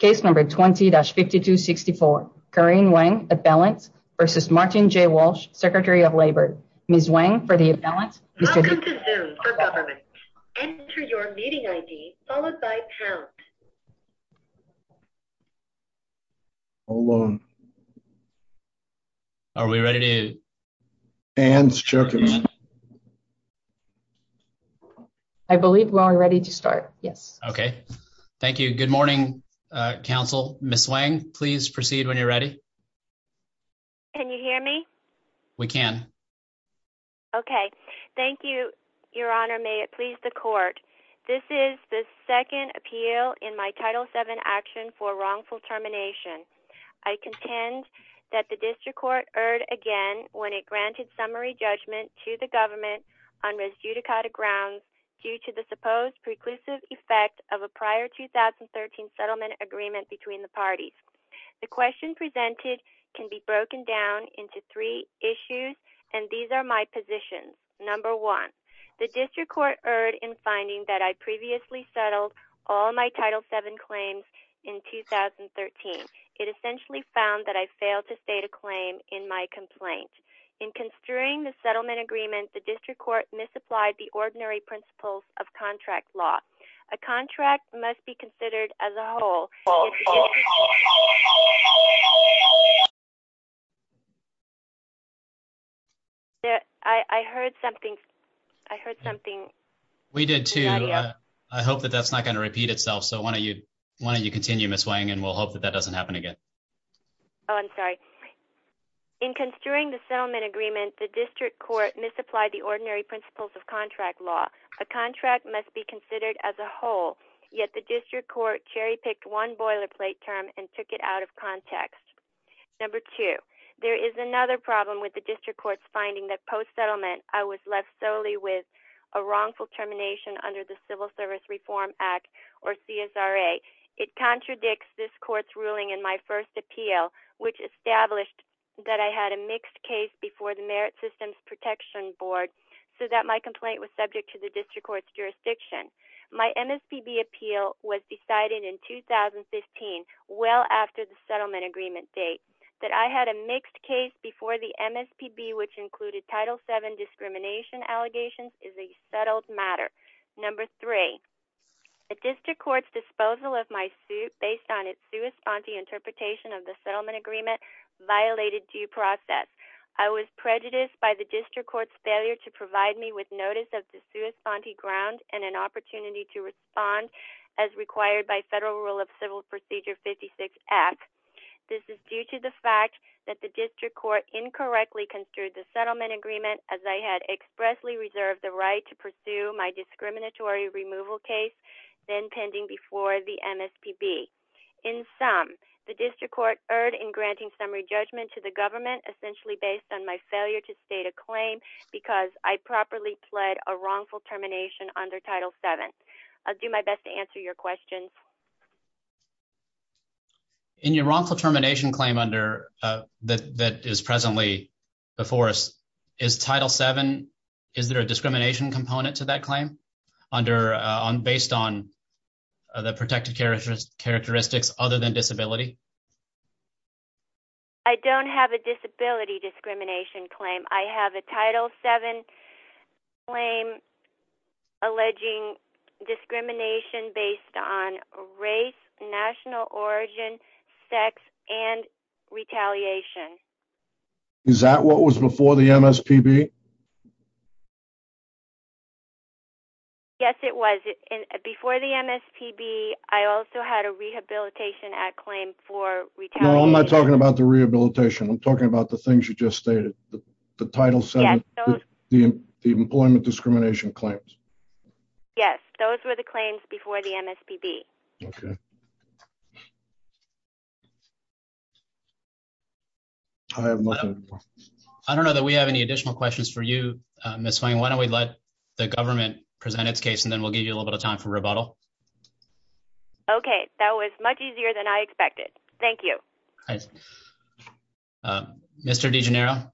v. Martin J. Walsh, Secretary of Labor. Ms. Weng, for the appellant. Welcome to Zoom for Government. Enter your meeting ID, followed by pound. Hold on. Are we ready to? Ann's checking. I believe we are ready to start. Yes. Okay, thank you. Good morning. Council Miss Wang, please proceed when you're ready. Can you hear me. We can. Okay, thank you, Your Honor, may it please the court. This is the second appeal in my title seven action for wrongful termination. I contend that the district court erred again when it granted summary judgment to the government on res judicata grounds due to the supposed preclusive effect of a prior 2013 settlement agreement between the parties. The question presented can be broken down into three issues, and these are my positions. Number one, the district court erred in finding that I previously settled all my title seven claims in 2013. It essentially found that I failed to state a claim in my complaint. In construing the settlement agreement, the district court misapplied the ordinary principles of contract law. A contract must be considered as a whole. I heard something. I heard something. We did, too. I hope that that's not going to repeat itself. So why don't you why don't you continue Miss Wang and we'll hope that that doesn't happen again. Oh, I'm sorry in construing the settlement agreement, the district court misapplied the ordinary principles of contract law. A contract must be considered as a whole, yet the district court cherry picked one boilerplate term and took it out of context. Number two, there is another problem with the district court's finding that post-settlement I was left solely with a wrongful termination under the Civil Service Reform Act or CSRA. It contradicts this court's ruling in my first appeal, which established that I had a mixed case before the Merit Systems Protection Board so that my complaint was subject to the district court's jurisdiction. My MSPB appeal was decided in 2015, well after the settlement agreement date. That I had a mixed case before the MSPB, which included title seven discrimination allegations, is a settled matter. Number three, the district court's disposal of my suit based on its sua sponte interpretation of the settlement agreement violated due process. I was prejudiced by the district court's failure to provide me with notice of the sua sponte ground and an opportunity to respond as required by Federal Rule of Civil Procedure 56-F. This is due to the fact that the district court incorrectly construed the settlement agreement as I had expressly reserved the right to pursue my discriminatory removal case, then pending before the MSPB. In sum, the district court erred in granting summary judgment to the government, essentially based on my failure to state a claim because I properly pled a wrongful termination under title seven. I'll do my best to answer your questions. In your wrongful termination claim that is presently before us, is title seven, is there a discrimination component to that claim based on the protected characteristics other than disability? I don't have a disability discrimination claim. I have a title seven claim alleging discrimination based on race, national origin, sex, and retaliation. Is that what was before the MSPB? Yes, it was. Before the MSPB, I also had a Rehabilitation Act claim for retaliation. No, I'm not talking about the rehabilitation. I'm talking about the things you just stated. The title seven, the employment discrimination claims. Yes, those were the claims before the MSPB. Okay. I don't know that we have any additional questions for you, Ms. Swain. Why don't we let the government present its case and then we'll give you a little bit of time for rebuttal. Okay, that was much easier than I expected. Thank you. Mr. DeGenero.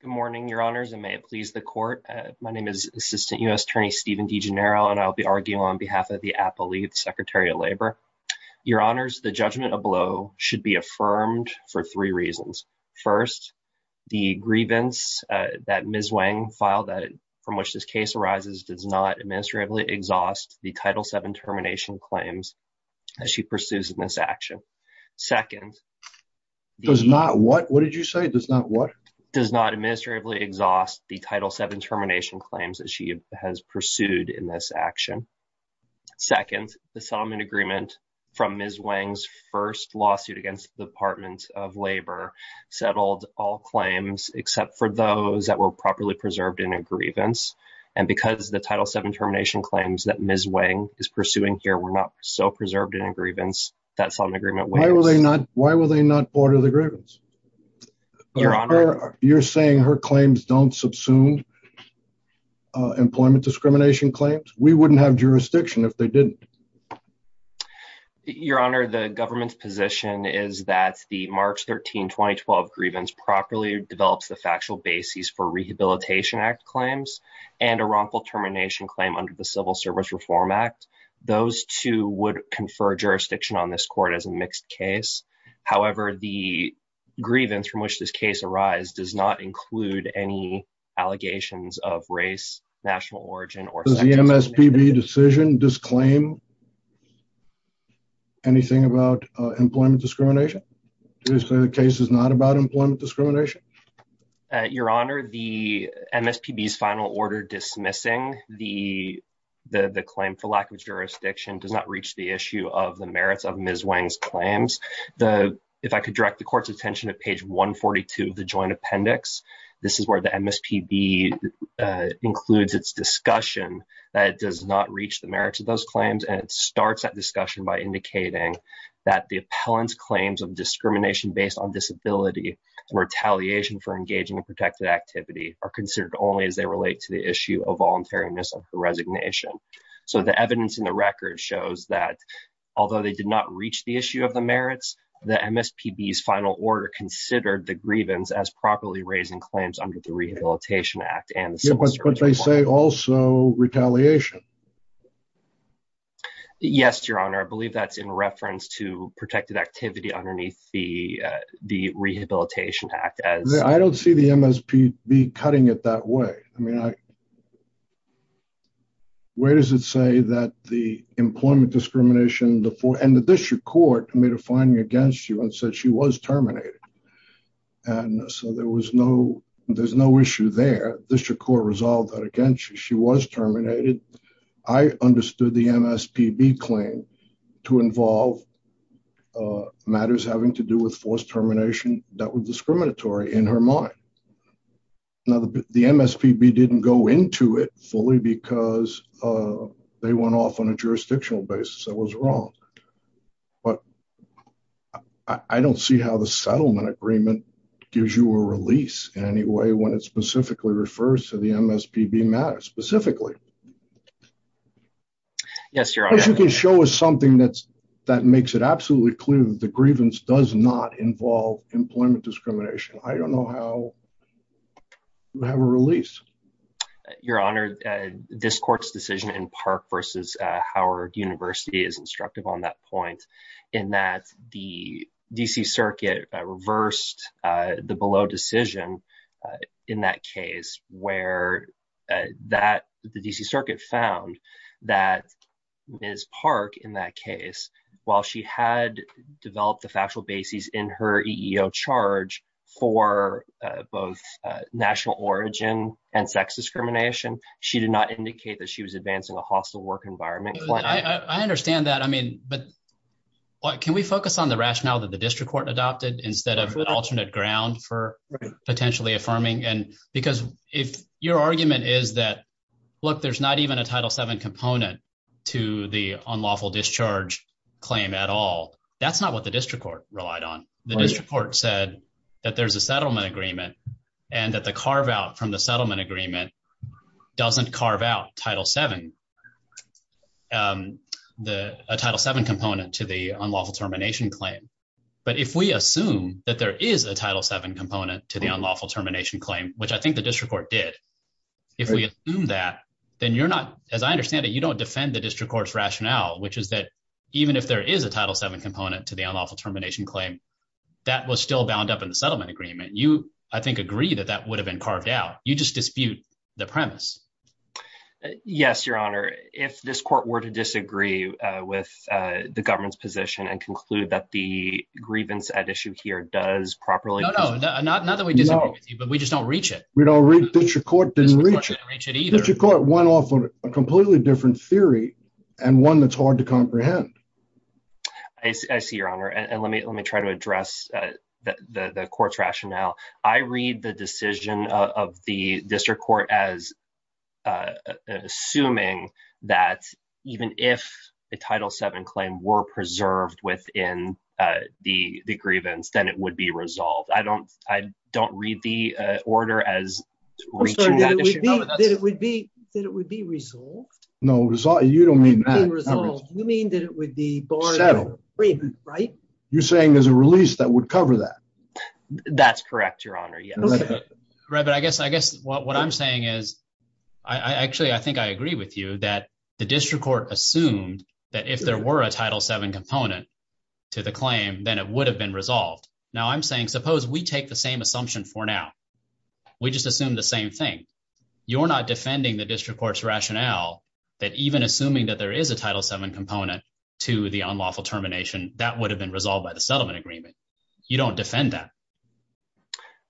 Good morning, Your Honors, and may it please the court. My name is Assistant U.S. Attorney Stephen DeGenero, and I'll be arguing on behalf of the APA League, the Secretary of Labor. Your Honors, the judgment below should be affirmed for three reasons. First, the grievance that Ms. Wang filed from which this case arises does not administratively exhaust the title seven termination claims as she pursues in this action. Does not what? What did you say? Does not what? Does not administratively exhaust the title seven termination claims that she has pursued in this action. Second, the settlement agreement from Ms. Wang's first lawsuit against the Department of Labor settled all claims except for those that were properly preserved in a grievance. And because the title seven termination claims that Ms. Wang is pursuing here were not so preserved in a grievance, that settlement agreement. Why were they not? Why were they not part of the grievance? Your Honor. You're saying her claims don't subsume employment discrimination claims? We wouldn't have jurisdiction if they didn't. Your Honor, the government's position is that the March 13, 2012 grievance properly develops the factual basis for Rehabilitation Act claims and a wrongful termination claim under the Civil Service Reform Act. Those two would confer jurisdiction on this court as a mixed case. However, the grievance from which this case arise does not include any allegations of race, national origin or. Does the MSPB decision disclaim anything about employment discrimination? Do you say the case is not about employment discrimination? Your Honor, the MSPB's final order dismissing the the claim for lack of jurisdiction does not reach the issue of the merits of Ms. Wang's claims. If I could direct the court's attention to page 142 of the joint appendix. This is where the MSPB includes its discussion that it does not reach the merits of those claims. And it starts that discussion by indicating that the appellant's claims of discrimination based on disability or retaliation for engaging in protected activity are considered only as they relate to the issue of voluntariness of the resignation. So the evidence in the record shows that although they did not reach the issue of the merits, the MSPB's final order considered the grievance as properly raising claims under the Rehabilitation Act and the Civil Service Reform Act. But they say also retaliation. Yes, Your Honor. I believe that's in reference to protected activity underneath the the Rehabilitation Act. I don't see the MSPB cutting it that way. I mean, where does it say that the employment discrimination and the district court made a finding against you and said she was terminated. And so there was no there's no issue there. The district court resolved that against you. She was terminated. I understood the MSPB claim to involve matters having to do with forced termination that were discriminatory in her mind. Now, the MSPB didn't go into it fully because they went off on a jurisdictional basis that was wrong. But I don't see how the settlement agreement gives you a release in any way when it specifically refers to the MSPB matter specifically. Yes, Your Honor. As you can show us something that's that makes it absolutely clear that the grievance does not involve employment discrimination. I don't know how you have a release. Your Honor, this court's decision in Park versus Howard University is instructive on that point in that the D.C. Circuit reversed the below decision in that case where that the D.C. Circuit found that Ms. Park in that case, while she had developed the factual basis in her EEO charge for both national origin and sex discrimination, she did not indicate that she was advancing a hostile work environment. I understand that. I mean, but can we focus on the rationale that the district court adopted instead of alternate ground for potentially affirming? And because if your argument is that, look, there's not even a Title seven component to the unlawful discharge claim at all, that's not what the district court relied on. The district court said that there's a settlement agreement and that the carve out from the settlement agreement doesn't carve out Title seven. The Title seven component to the unlawful termination claim. But if we assume that there is a Title seven component to the unlawful termination claim, which I think the district court did, if we assume that, then you're not as I understand it. You don't defend the district court's rationale, which is that even if there is a Title seven component to the unlawful termination claim, that was still bound up in the settlement agreement. You, I think, agree that that would have been carved out. You just dispute the premise. Yes, Your Honor. If this court were to disagree with the government's position and conclude that the grievance at issue here does properly. No, no, not that we disagree with you, but we just don't reach it. We don't reach it. District court didn't reach it. District court didn't reach it either. District court went off on a completely different theory and one that's hard to comprehend. I see, Your Honor. And let me let me try to address the court's rationale. I read the decision of the district court as assuming that even if the Title seven claim were preserved within the grievance, then it would be resolved. I don't I don't read the order as it would be that it would be resolved. No result. You don't mean that. You mean that it would be. Right. You're saying there's a release that would cover that. That's correct. Your Honor. Yes. Right. But I guess I guess what I'm saying is, I actually I think I agree with you that the district court assumed that if there were a Title seven component to the claim, then it would have been resolved. Now I'm saying suppose we take the same assumption for now. We just assume the same thing. You're not defending the district court's rationale that even assuming that there is a Title seven component to the unlawful termination, that would have been resolved by the settlement agreement. You don't defend that.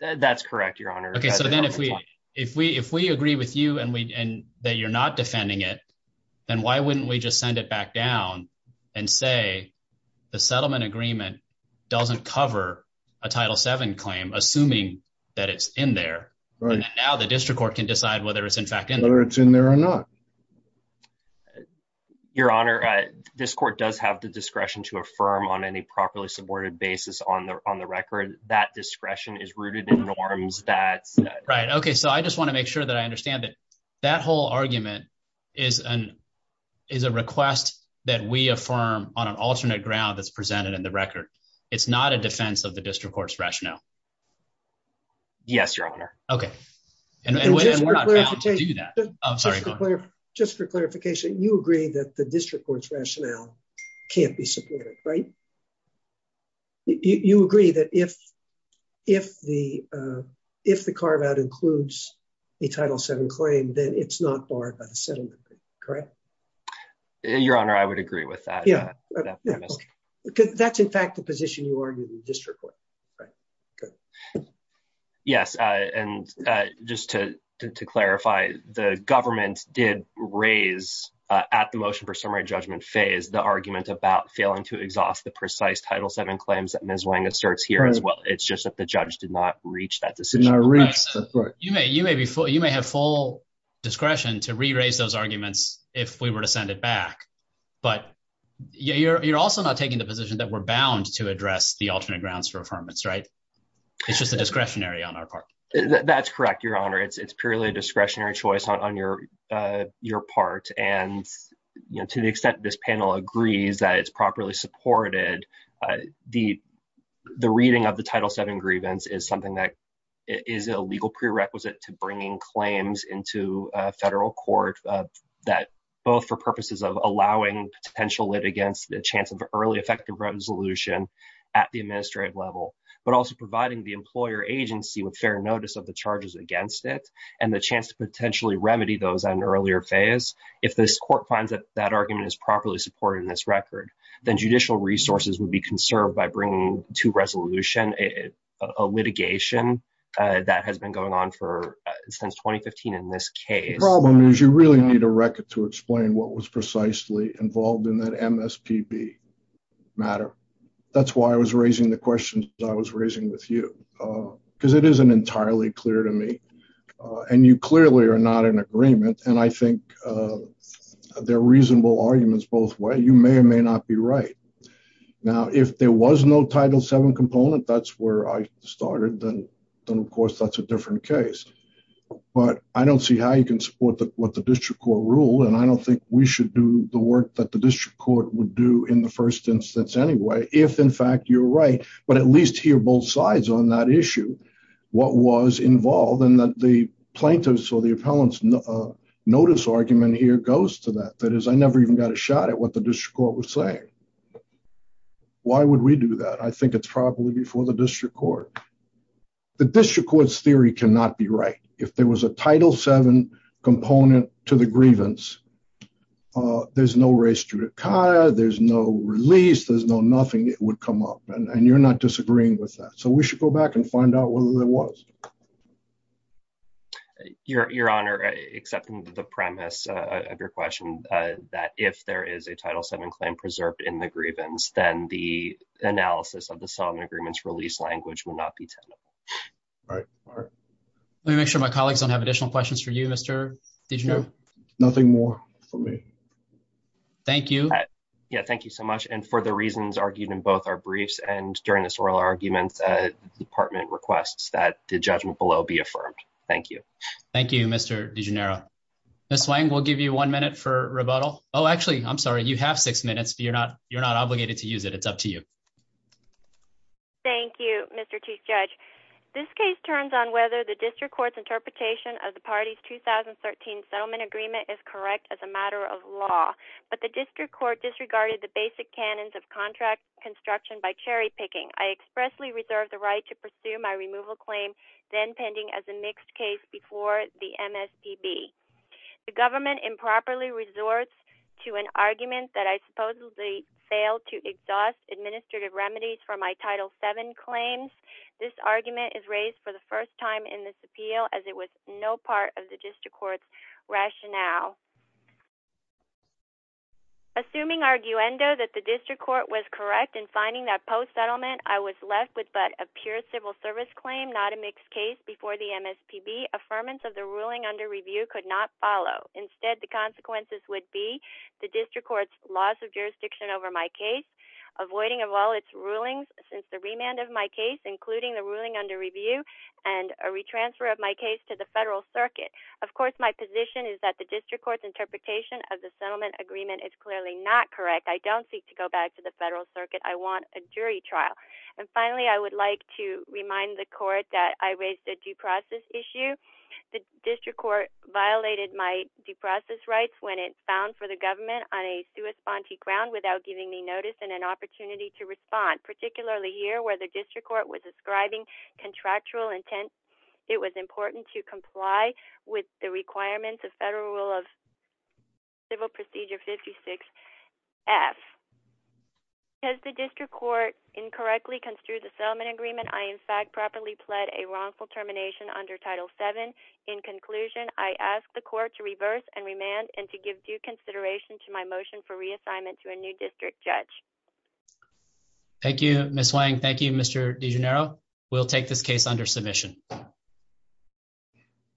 That's correct. Your Honor. Okay, so then if we if we if we agree with you and we and that you're not defending it, then why wouldn't we just send it back down and say the settlement agreement doesn't cover a Title seven claim assuming that it's in there. Now the district court can decide whether it's in fact whether it's in there or not. Your Honor, this court does have the discretion to affirm on any properly supported basis on the on the record that discretion is rooted in norms that right okay so I just want to make sure that I understand that that whole argument is an is a request that we affirm on an alternate ground that's presented in the record. It's not a defense of the district court's rationale. And we're not going to do that. I'm sorry. Just for clarification, you agree that the district court's rationale can't be supported, right. You agree that if, if the, if the carve out includes a Title seven claim then it's not barred by the settlement. Correct. Your Honor, I would agree with that. Yeah. Because that's in fact the position you are in the district court. Right. Yes. And just to clarify, the government did raise at the motion for summary judgment phase the argument about failing to exhaust the precise Title seven claims that Ms Wang asserts here as well. It's just that the judge did not reach that decision. You may you may be for you may have full discretion to re raise those arguments, if we were to send it back, but you're also not taking the position that we're bound to address the alternate grounds for affirmance right. It's just a discretionary on our part. That's correct. Your Honor, it's purely a discretionary choice on your, your part, and to the extent this panel agrees that it's properly supported the, the reading of the title seven grievance is something that is a legal prerequisite to bringing claims into federal court that both for purposes of allowing potential lit against the chance of early effective resolution at the administrative level, but also providing the employer agency with fair notice of the charges against it, and the chance to potentially remedy those on earlier phase. If this court finds that that argument is properly supported in this record, then judicial resources would be conserved by bringing to resolution, a litigation that has been going on for since 2015 in this case problem is you really need a record to explain what was precisely involved in that MSPB matter. That's why I was raising the question I was raising with you, because it isn't entirely clear to me. And you clearly are not in agreement and I think they're reasonable arguments both way you may or may not be right. Now, if there was no title seven component that's where I started, then, then of course that's a different case. But I don't see how you can support that what the district court rule and I don't think we should do the work that the district court would do in the first instance anyway, if in fact you're right, but at least here both sides on that issue. What was involved in the plaintiffs or the appellants notice argument here goes to that that is I never even got a shot at what the district court was saying. Why would we do that I think it's probably before the district court. The district courts theory cannot be right. If there was a title seven component to the grievance. There's no race to the car, there's no release there's no nothing that would come up and you're not disagreeing with that so we should go back and find out whether there was your honor accepting the premise of your question that if there is a title seven claim preserved in the grievance, then the analysis of the song agreements release language will not be right. Let me make sure my colleagues don't have additional questions for you Mr. Did you know nothing more for me. Thank you. Yeah, thank you so much and for the reasons argued in both our briefs and during this oral arguments department requests that the judgment below be affirmed. Thank you. Thank you, Mr. DeGeneres slang will give you one minute for rebuttal. Oh actually I'm sorry you have six minutes but you're not, you're not obligated to use it it's up to you. Thank you, Mr. Chief Judge. This case turns on whether the district court's interpretation of the parties 2013 settlement agreement is correct as a matter of law, but the district court disregarded the basic canons of contract construction by cherry picking I expressly reserve the right to pursue my removal claim, then pending as a mixed case before the MSPB. The government improperly resorts to an argument that I supposedly fail to exhaust administrative remedies for my title seven claims. This argument is raised for the first time in this appeal as it was no part of the district court's rationale. Assuming arguendo that the district court was correct in finding that post settlement I was left with but a pure civil service claim not a mixed case before the MSPB affirmance of the ruling under review could not follow instead the consequences would be the district court's laws of jurisdiction over my case, avoiding of all its rulings, since the remand of my case, including the ruling under review, and a re transfer of my case to the federal circuit. Of course my position is that the district court's interpretation of the settlement agreement is clearly not correct I don't seek to go back to the federal circuit I want a jury trial. And finally I would like to remind the court that I raised a due process issue. The district court violated my due process rights when it found for the government on a sui sponte ground without giving me notice and an opportunity to respond particularly here where the district court was ascribing contractual intent. It was important to comply with the requirements of federal rule of civil procedure 56 F. As the district court incorrectly construed the settlement agreement I in fact properly pled a wrongful termination under Title seven. In conclusion, I asked the court to reverse and remand and to give due consideration to my motion for reassignment to a new district judge. Thank you, Miss Wang Thank you Mr de Janeiro will take this case under submission.